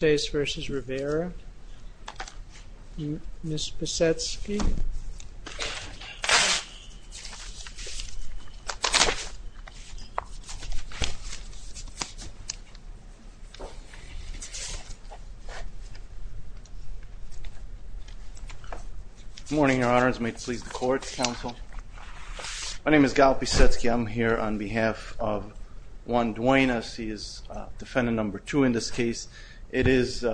vs. Rivera. Ms. Pisetsky. Good morning your honors. May it please the court, counsel. My name is Gal Pisetsky. I'm here on behalf of Juan Duenas. He is defendant number two in this case. It is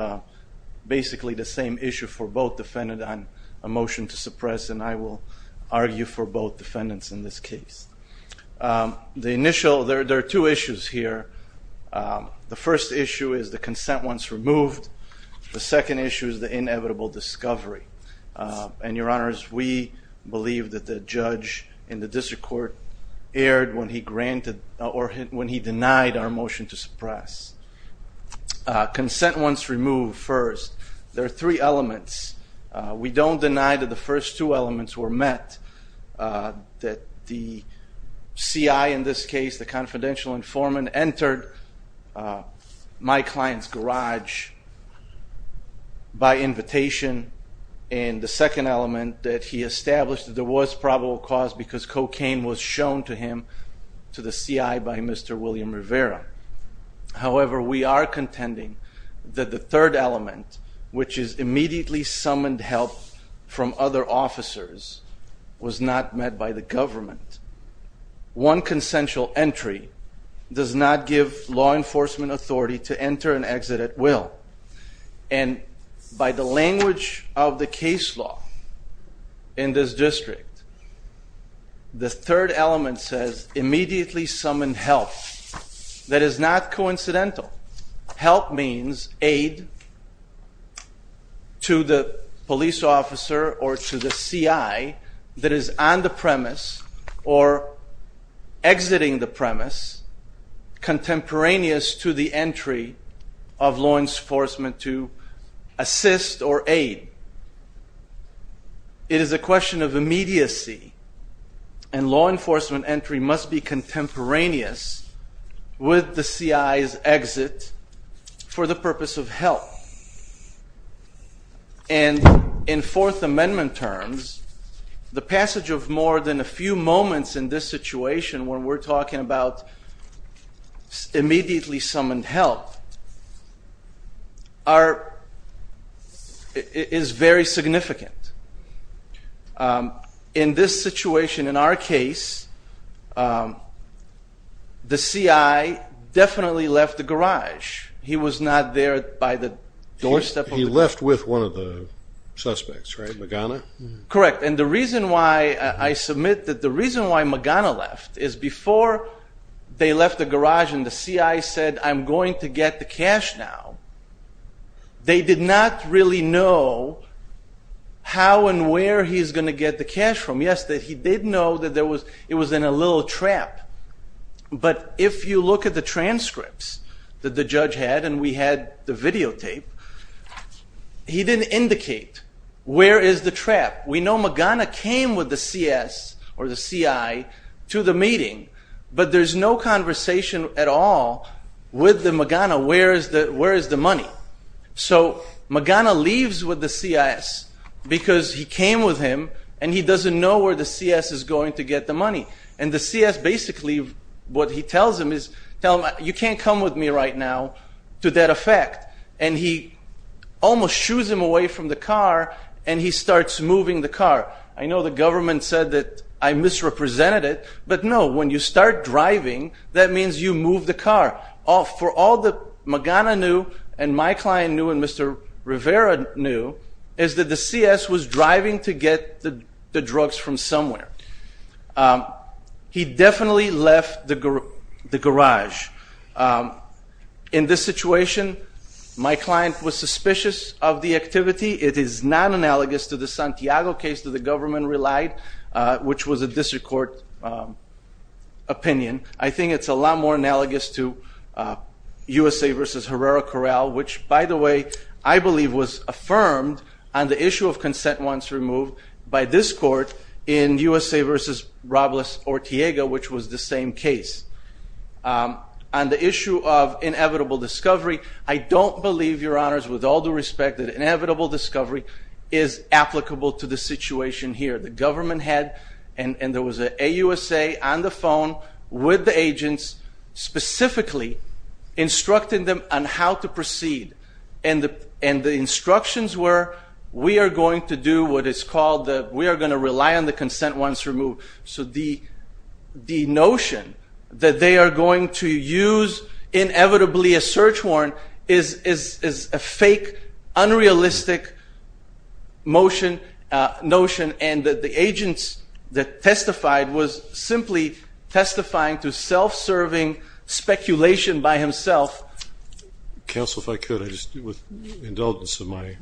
basically the same issue for both defendants on a motion to suppress and I will argue for both defendants in this case. The initial, there are two issues here. The first issue is the consent once removed. The second issue is the inevitable discovery. And your honors, we believe that the judge in the district court erred when he denied our motion to suppress. Consent once removed first. There are three elements. We don't deny that the first two elements were met. That the CI in this case, the confidential informant, entered my client's garage by invitation and the second element that he established that there was probable cause because cocaine was shown to him to the CI by Mr. William Rivera. However, we are contending that the third element, which is immediately summoned help from other officers, was not met by the government. One consensual entry does not give law enforcement authority to enter an approach of the case law in this district. The third element says immediately summon help. That is not coincidental. Help means aid to the police officer or to the CI that is on the premise or exiting the premise contemporaneous to the entry of law enforcement to assist or aid. It is a question of immediacy and law enforcement entry must be contemporaneous with the CI's exit for the purpose of help. And in Fourth Amendment terms, the passage of more than a few moments in this situation when we're talking about immediately summoned help is very significant. In this situation, in our case, the CI definitely left the garage. He was not there by the doorstep. He left with one of the suspects, right? Magana? Correct. And the reason why I submit that the reason why Magana left is before they left the garage and the CI said, I'm going to get the cash now, they did not really know how and where he's going to get the cash from. Yes, he did know that it was in a little trap. But if you look at the transcripts that the judge had and we had the videotape, he didn't indicate where is the trap. We know Magana came with the CS or the CI to the meeting, but there's no conversation at all with the Magana. Where is the where is the money? So Magana leaves with the CI's because he came with him and he doesn't know where the CS is going to get the money. And the CS basically what he tells him is, you can't come with me right now to that effect. And he almost shoes him away from the car and he starts moving the car. I know the government said that I misrepresented it, but no, when you start driving, that means you move the car. For all that Magana knew and my client knew and Mr. Rivera knew is that the CS was driving to get the drugs from somewhere. He definitely left the garage. In this situation, my client was suspicious of the activity. It is not analogous to the government relied, which was a district court opinion. I think it's a lot more analogous to USA v. Herrera Corral, which by the way, I believe was affirmed on the issue of consent once removed by this court in USA v. Robles or Tiago, which was the same case. On the issue of inevitable discovery, I don't believe, your honors, with all due respect, that inevitable situation here, the government had, and there was a USA on the phone with the agents specifically instructing them on how to proceed. And the instructions were, we are going to do what is called, we are going to rely on the consent once removed. So the notion that they are going to use inevitably a search warrant is a fake, unrealistic notion and that the agents that testified was simply testifying to self-serving speculation by himself. Counsel, if I could, with indulgence of my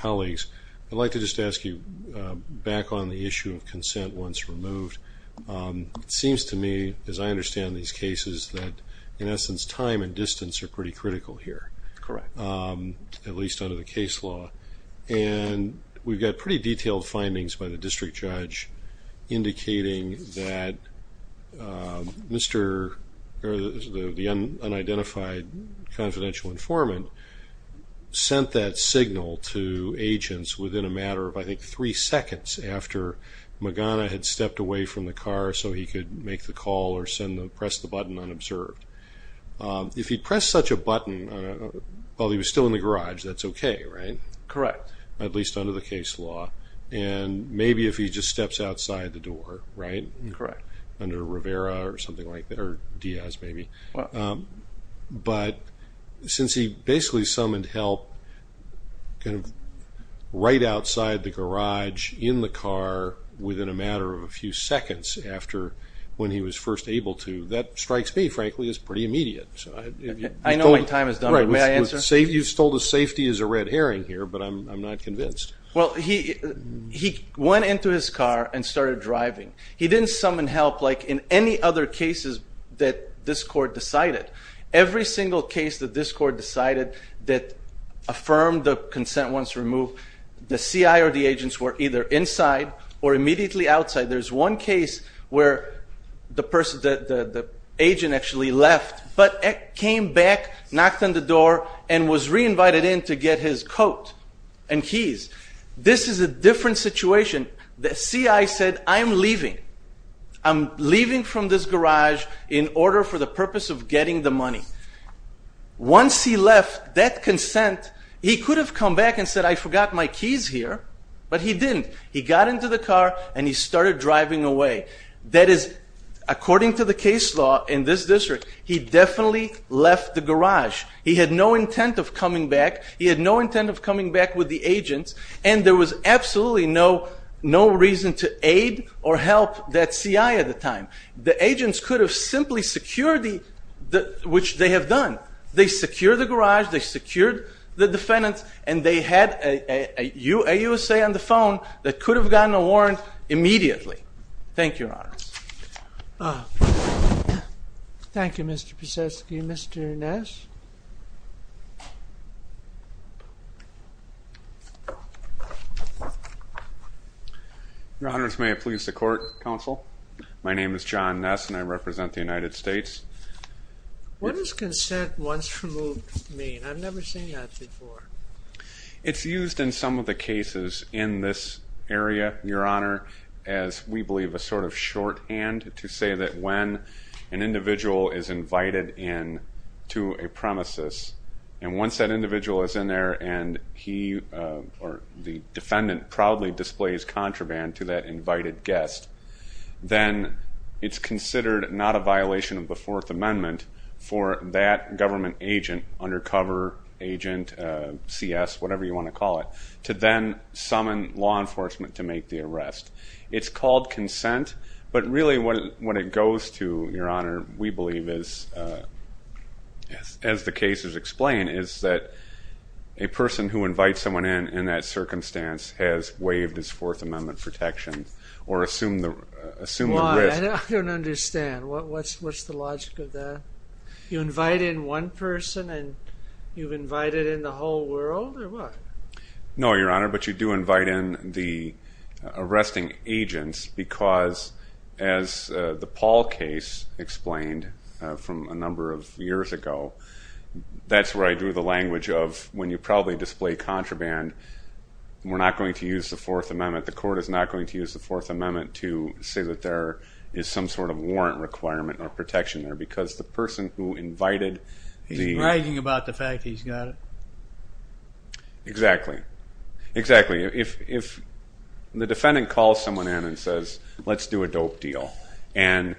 colleagues, I'd like to just ask you back on the issue of consent once removed. It seems to me, as I understand these cases, that in essence time and distance are pretty critical here, at least under the case law. And we've got pretty detailed findings by the district judge indicating that the unidentified confidential informant sent that signal to agents within a matter of, I think, three seconds after Magana had stepped away from the car so he could make the call or press the button unobserved. If he pressed such a button while he was still in the garage, that's okay, right? Correct. At least under the case law. And maybe if he just steps outside the door, right? Correct. Under Rivera or Diaz maybe. But since he basically summoned help right outside the garage in the car within a matter of a few seconds after when he was first able to, that strikes me, frankly, as pretty immediate. I know my time is done, but may I answer? You've told us safety is a red herring here, but I'm not convinced. Well, he went into his car and started driving. He didn't summon help like in any other cases that this court decided. Every single case that this court decided that affirmed the consent once removed, the CI or the agents were either inside or immediately outside. There's one case where the agent actually left, but came back, knocked on the door, and was re-invited in to get his coat and keys. This is a different situation. The CI said, I'm leaving. I'm leaving from this garage in order for the purpose of getting the money. Once he left, that consent, he could have come back and said, I forgot my keys here, but he didn't. He got into the car and he started driving away. That is, according to the case law in this district, he definitely left the garage. He had no intent of coming back. He had no intent of coming back with the agents, and there was absolutely no reason to aid or help that CI at the time. The agents could have simply secured, which they have done. They secured the garage, they secured the defendants, and they had a USA on the phone that could have gotten a warrant immediately. Thank you, Your Honor. Thank you, Mr. Pisetsky. Mr. Ness? Your Honors, may it please the court, counsel. My name is John Ness and I represent the United States. What does consent once removed mean? I've never seen that before. It's used in some of the cases in this area, Your Honor, as we believe a sort of shorthand to say that when an individual is invited in to a premises, and once that individual is in there and he or the defendant proudly displays contraband to that invited guest, then it's considered not violation of the Fourth Amendment for that government agent, undercover agent, CS, whatever you want to call it, to then summon law enforcement to make the arrest. It's called consent, but really what it goes to, Your Honor, we believe is, as the cases explain, is that a person who invites someone in, in that circumstance, has waived his Fourth Amendment protection or assumed risk. I don't understand. What's the logic of that? You invite in one person and you've invited in the whole world or what? No, Your Honor, but you do invite in the arresting agents because, as the Paul case explained from a number of years ago, that's where I drew the language of when you proudly display contraband, we're not going to use the Fourth Amendment. The court is not going to use the Fourth Amendment to say that there is some sort of warrant requirement or protection there because the person who invited the... He's bragging about the fact he's got it. Exactly, exactly. If the defendant calls someone in and says, let's do a dope deal, and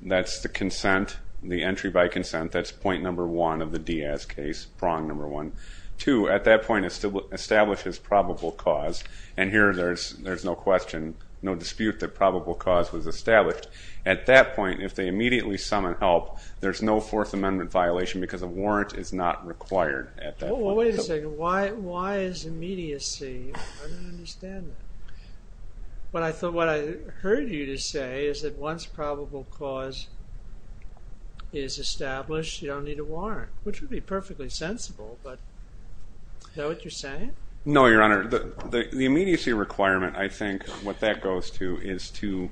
that's the consent, the entry by consent, that's point number one of the Diaz case, prong number one. Two, at that point, it still establishes probable cause, and here there's no question, no dispute that probable cause was established. At that point, if they immediately summon help, there's no Fourth Amendment violation because a warrant is not required at that point. Wait a second. Why is immediacy? I don't understand that, but I thought what I heard you to say is that once probable cause is established, you don't need a warrant, which would be perfectly sensible, but is that what you're saying? No, Your Honor. The immediacy requirement, I think what that goes to is to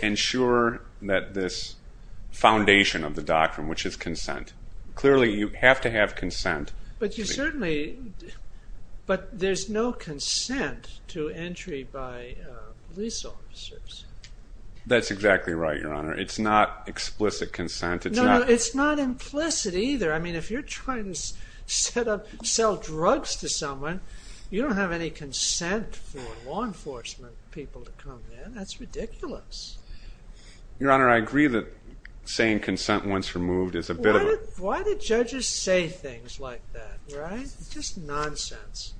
ensure that this foundation of the doctrine, which is consent, clearly you have to have consent. But you certainly... But there's no consent to entry by police officers. That's exactly right, Your Honor. It's not explicit consent. It's not implicit either. I mean, if you're trying to sell drugs to someone, you don't have any consent for law enforcement people to come in. That's ridiculous. Your Honor, I agree that saying consent once removed is a bit of a... Why do judges say things like that, right? It's just nonsense.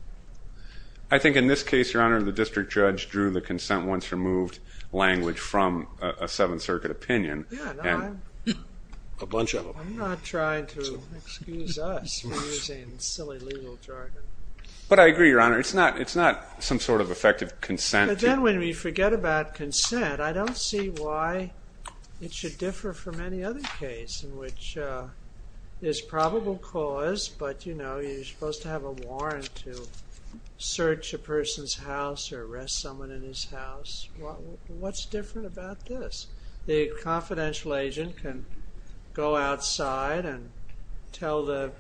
I think in this case, Your Honor, the district judge drew the consent once removed language from a Seventh Circuit opinion. Yeah, a bunch of them. I'm not trying to excuse us for using silly legal jargon. But I agree, Your Honor. It's not some sort of effective consent. But then when we forget about consent, I don't see why it should differ from any other case in which there's probable cause, but you're supposed to have a warrant to search a person's house or arrest someone in his house. What's different about this? The confidential agent can go outside and tell the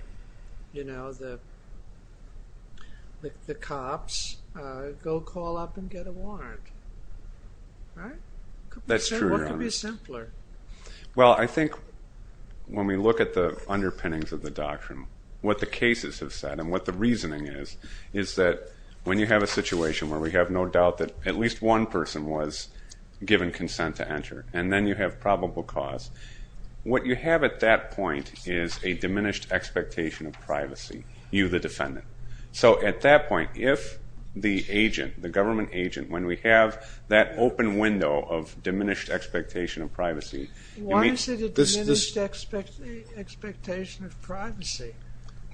cops, go call up and get a warrant. Right? That's true, Your Honor. What could be simpler? Well, I think when we look at the underpinnings of the doctrine, what the cases have said and what the reasoning is, is that when you have a situation where we have no doubt that at least one person was given consent to enter and then you have probable cause, what you have at that point is a diminished expectation of privacy, you the defendant. So at that point, if the agent, the government agent, when we have that open window of diminished expectation of privacy... Why is it a diminished expectation of privacy?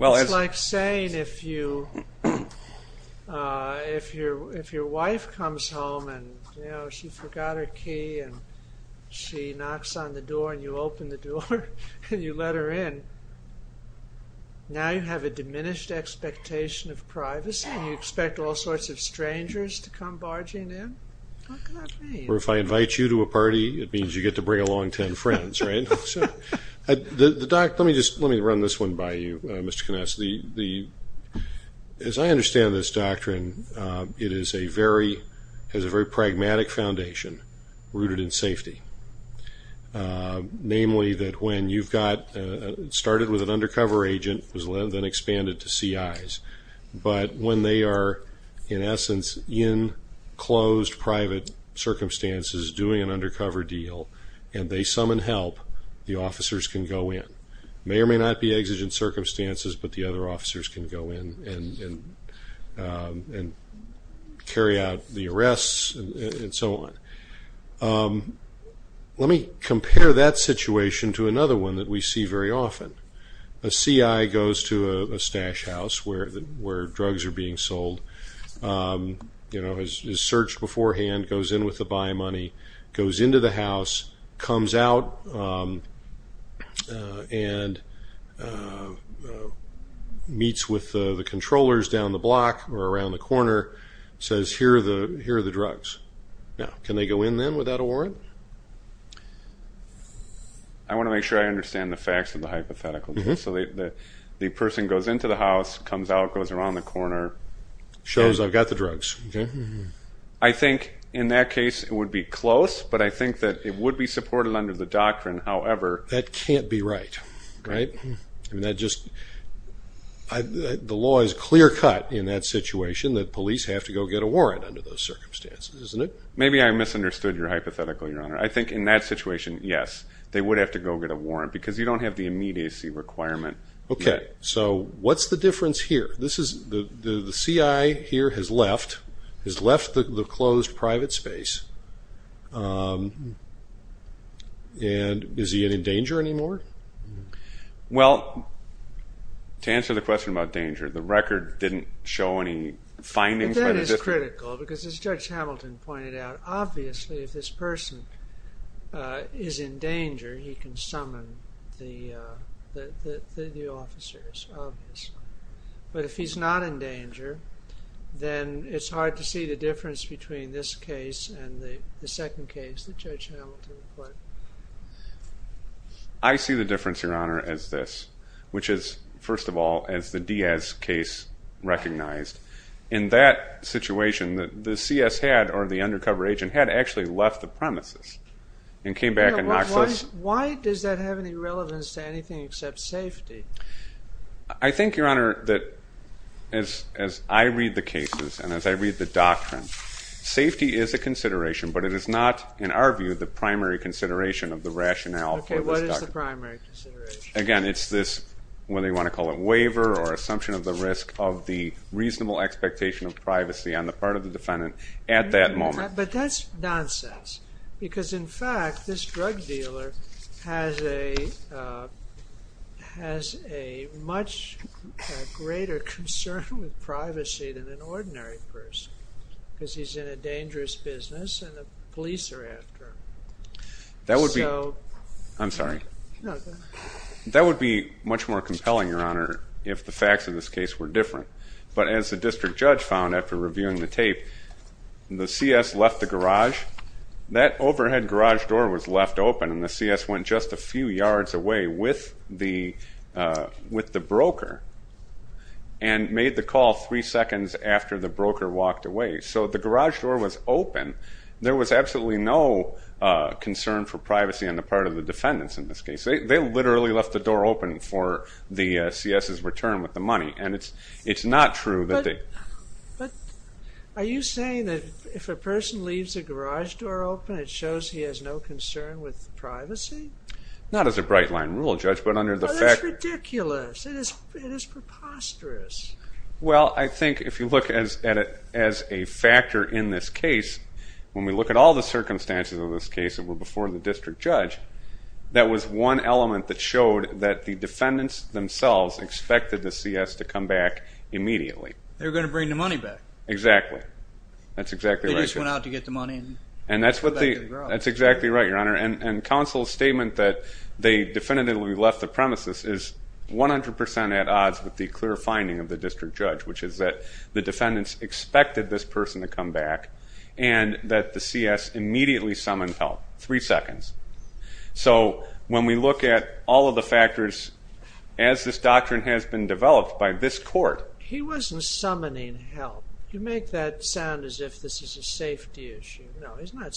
It's like saying if your wife comes home and she forgot her key and she knocks on the door and you open the door and you let her in, now you have a diminished expectation of privacy and you expect all sorts of strangers to come barging in? What could that mean? Or if I invite you to a party, it means you get to bring along 10 friends, right? The doctrine... Let me run this one by you, Mr. Knauss. As I understand this doctrine, it has a very pragmatic foundation rooted in safety. Namely that when you've got... It started with an undercover agent, then expanded to CIs, but when they are in essence in closed private circumstances doing an undercover deal and they summon help, the officers can go in. Carry out the arrests and so on. Let me compare that situation to another one that we see very often. A CI goes to a stash house where drugs are being sold, is searched beforehand, goes in with the buy money, goes into the house, comes out and meets with the controllers down the block or around the corner, says, here are the drugs. Now, can they go in then without a warrant? I want to make sure I understand the facts of the hypothetical. So the person goes into the house, comes out, goes around the corner. Shows I've got the drugs. I think in that case it would be close, but I think that it would be supported under the doctrine, however... That can't be right, right? The law is clear cut in that situation that police have to go get a warrant under those circumstances, isn't it? Maybe I misunderstood your hypothetical, your honor. I think in that situation, yes, they would have to go get a warrant because you don't have the immediacy requirement. Okay, so what's the difference here? The CI here has left the closed private space and is he in danger anymore? Well, to answer the question about danger, the record didn't show any findings. That is critical because as Judge Hamilton pointed out, obviously if this person is in danger, he can summon the officers, obviously. But if he's not in danger, then it's hard to see the difference between this case and the second case that Judge Hamilton put. I see the difference, your honor, as this, which is, first of all, as the Diaz case recognized. In that situation, the CS had, or the undercover agent, had actually left the premises and came back. Why does that have any relevance to anything except safety? I think, your honor, that as I read the cases and as I read the doctrine, safety is a consideration, but it is not, in our view, the primary consideration of the rationale. Okay, what is the primary consideration? Again, it's this, whether you want to call it waiver or assumption of the risk of the reasonable expectation of privacy on the part of the defendant at that a much greater concern with privacy than an ordinary person because he's in a dangerous business and the police are after him. That would be, I'm sorry, that would be much more compelling, your honor, if the facts of this case were different. But as the district judge found after reviewing the tape, the CS left the garage. That overhead garage door was left open and the CS was a few yards away with the broker and made the call three seconds after the broker walked away. So the garage door was open. There was absolutely no concern for privacy on the part of the defendants in this case. They literally left the door open for the CS's return with the money and it's not true that they... But are you saying that if a person leaves a garage door open it shows he has no concern with privacy? Not as a bright line rule, judge, but under the fact... That's ridiculous. It is preposterous. Well, I think if you look at it as a factor in this case, when we look at all the circumstances of this case that were before the district judge, that was one element that showed that the defendants themselves expected the CS to come back immediately. They were going to bring the money back. Exactly. That's exactly right. They That's exactly right, your honor. And counsel's statement that they definitively left the premises is 100% at odds with the clear finding of the district judge, which is that the defendants expected this person to come back and that the CS immediately summoned help. Three seconds. So when we look at all of the factors as this doctrine has been developed by this court... He wasn't summoning help. You make that sound as if this is a safety issue. No, he's not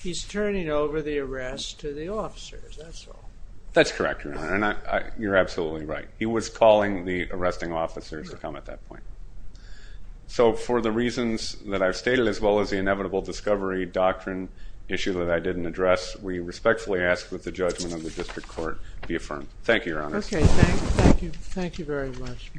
He's turning over the arrest to the officers. That's all. That's correct, your honor. You're absolutely right. He was calling the arresting officers to come at that point. So for the reasons that I've stated, as well as the inevitable discovery doctrine issue that I didn't address, we respectfully ask that the judgment of the district court be affirmed. Thank you, your honor. Okay. Thank you. Thank you very much.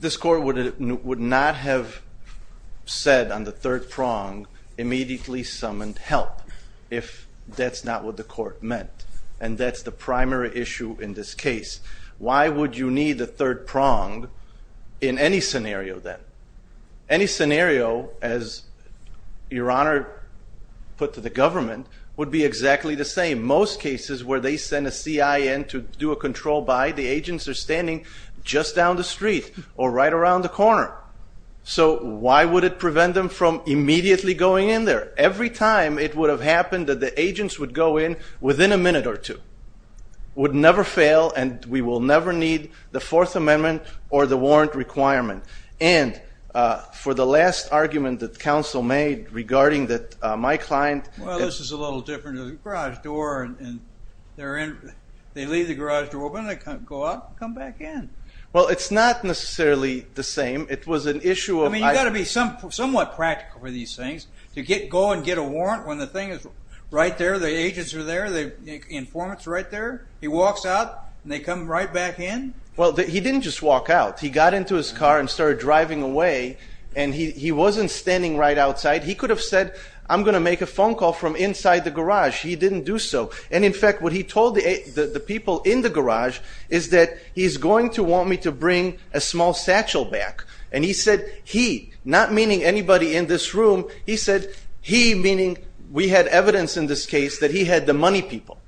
This court would not have said on the third prong immediately summoned help if that's not what the in any scenario then. Any scenario as your honor put to the government would be exactly the same. Most cases where they send a CIN to do a control by, the agents are standing just down the street or right around the corner. So why would it prevent them from immediately going in there? Every time it would have happened that the agents would go in within a minute or two. Would never fail and we will never need the fourth amendment or the warrant requirement. And for the last argument that counsel made regarding that my client Well, this is a little different than garage door. And they're in, they leave the garage door open, they can't go out, come back in. Well, it's not necessarily the same. It was an issue. I mean, you got to be some somewhat practical for these things to get go and get a warrant when the thing is right there, the agents are there, the informants right there. He walks out and they come right back in. Well, he didn't just walk out. He got into his car and started driving away. And he wasn't standing right outside. He could have said, I'm going to make a phone call from inside the garage. He didn't do so. And in fact, what he told the people in the garage is that he's going to want me to bring a small satchel back. And he said, he not meaning anybody in this room. He said, he meaning we had evidence in this case that he had the money people.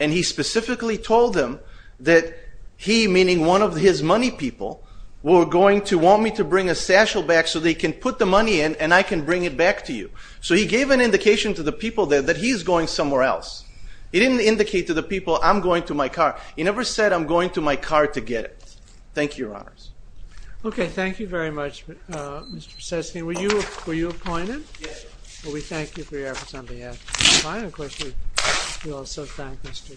And he specifically told them that he meaning one of his money people were going to want me to bring a satchel back so they can put the money in and I can bring it back to you. So he gave an indication to the people there that he's going somewhere else. He didn't indicate to the people, I'm going to my car. He never said I'm going to my car to get it. Thank you, Your Honors. Okay, thank you very much, Mr. Seskin. Were you were you appointed? Well, we thank you for your opportunity to testify. And of course, we also thank Mr. Knauss.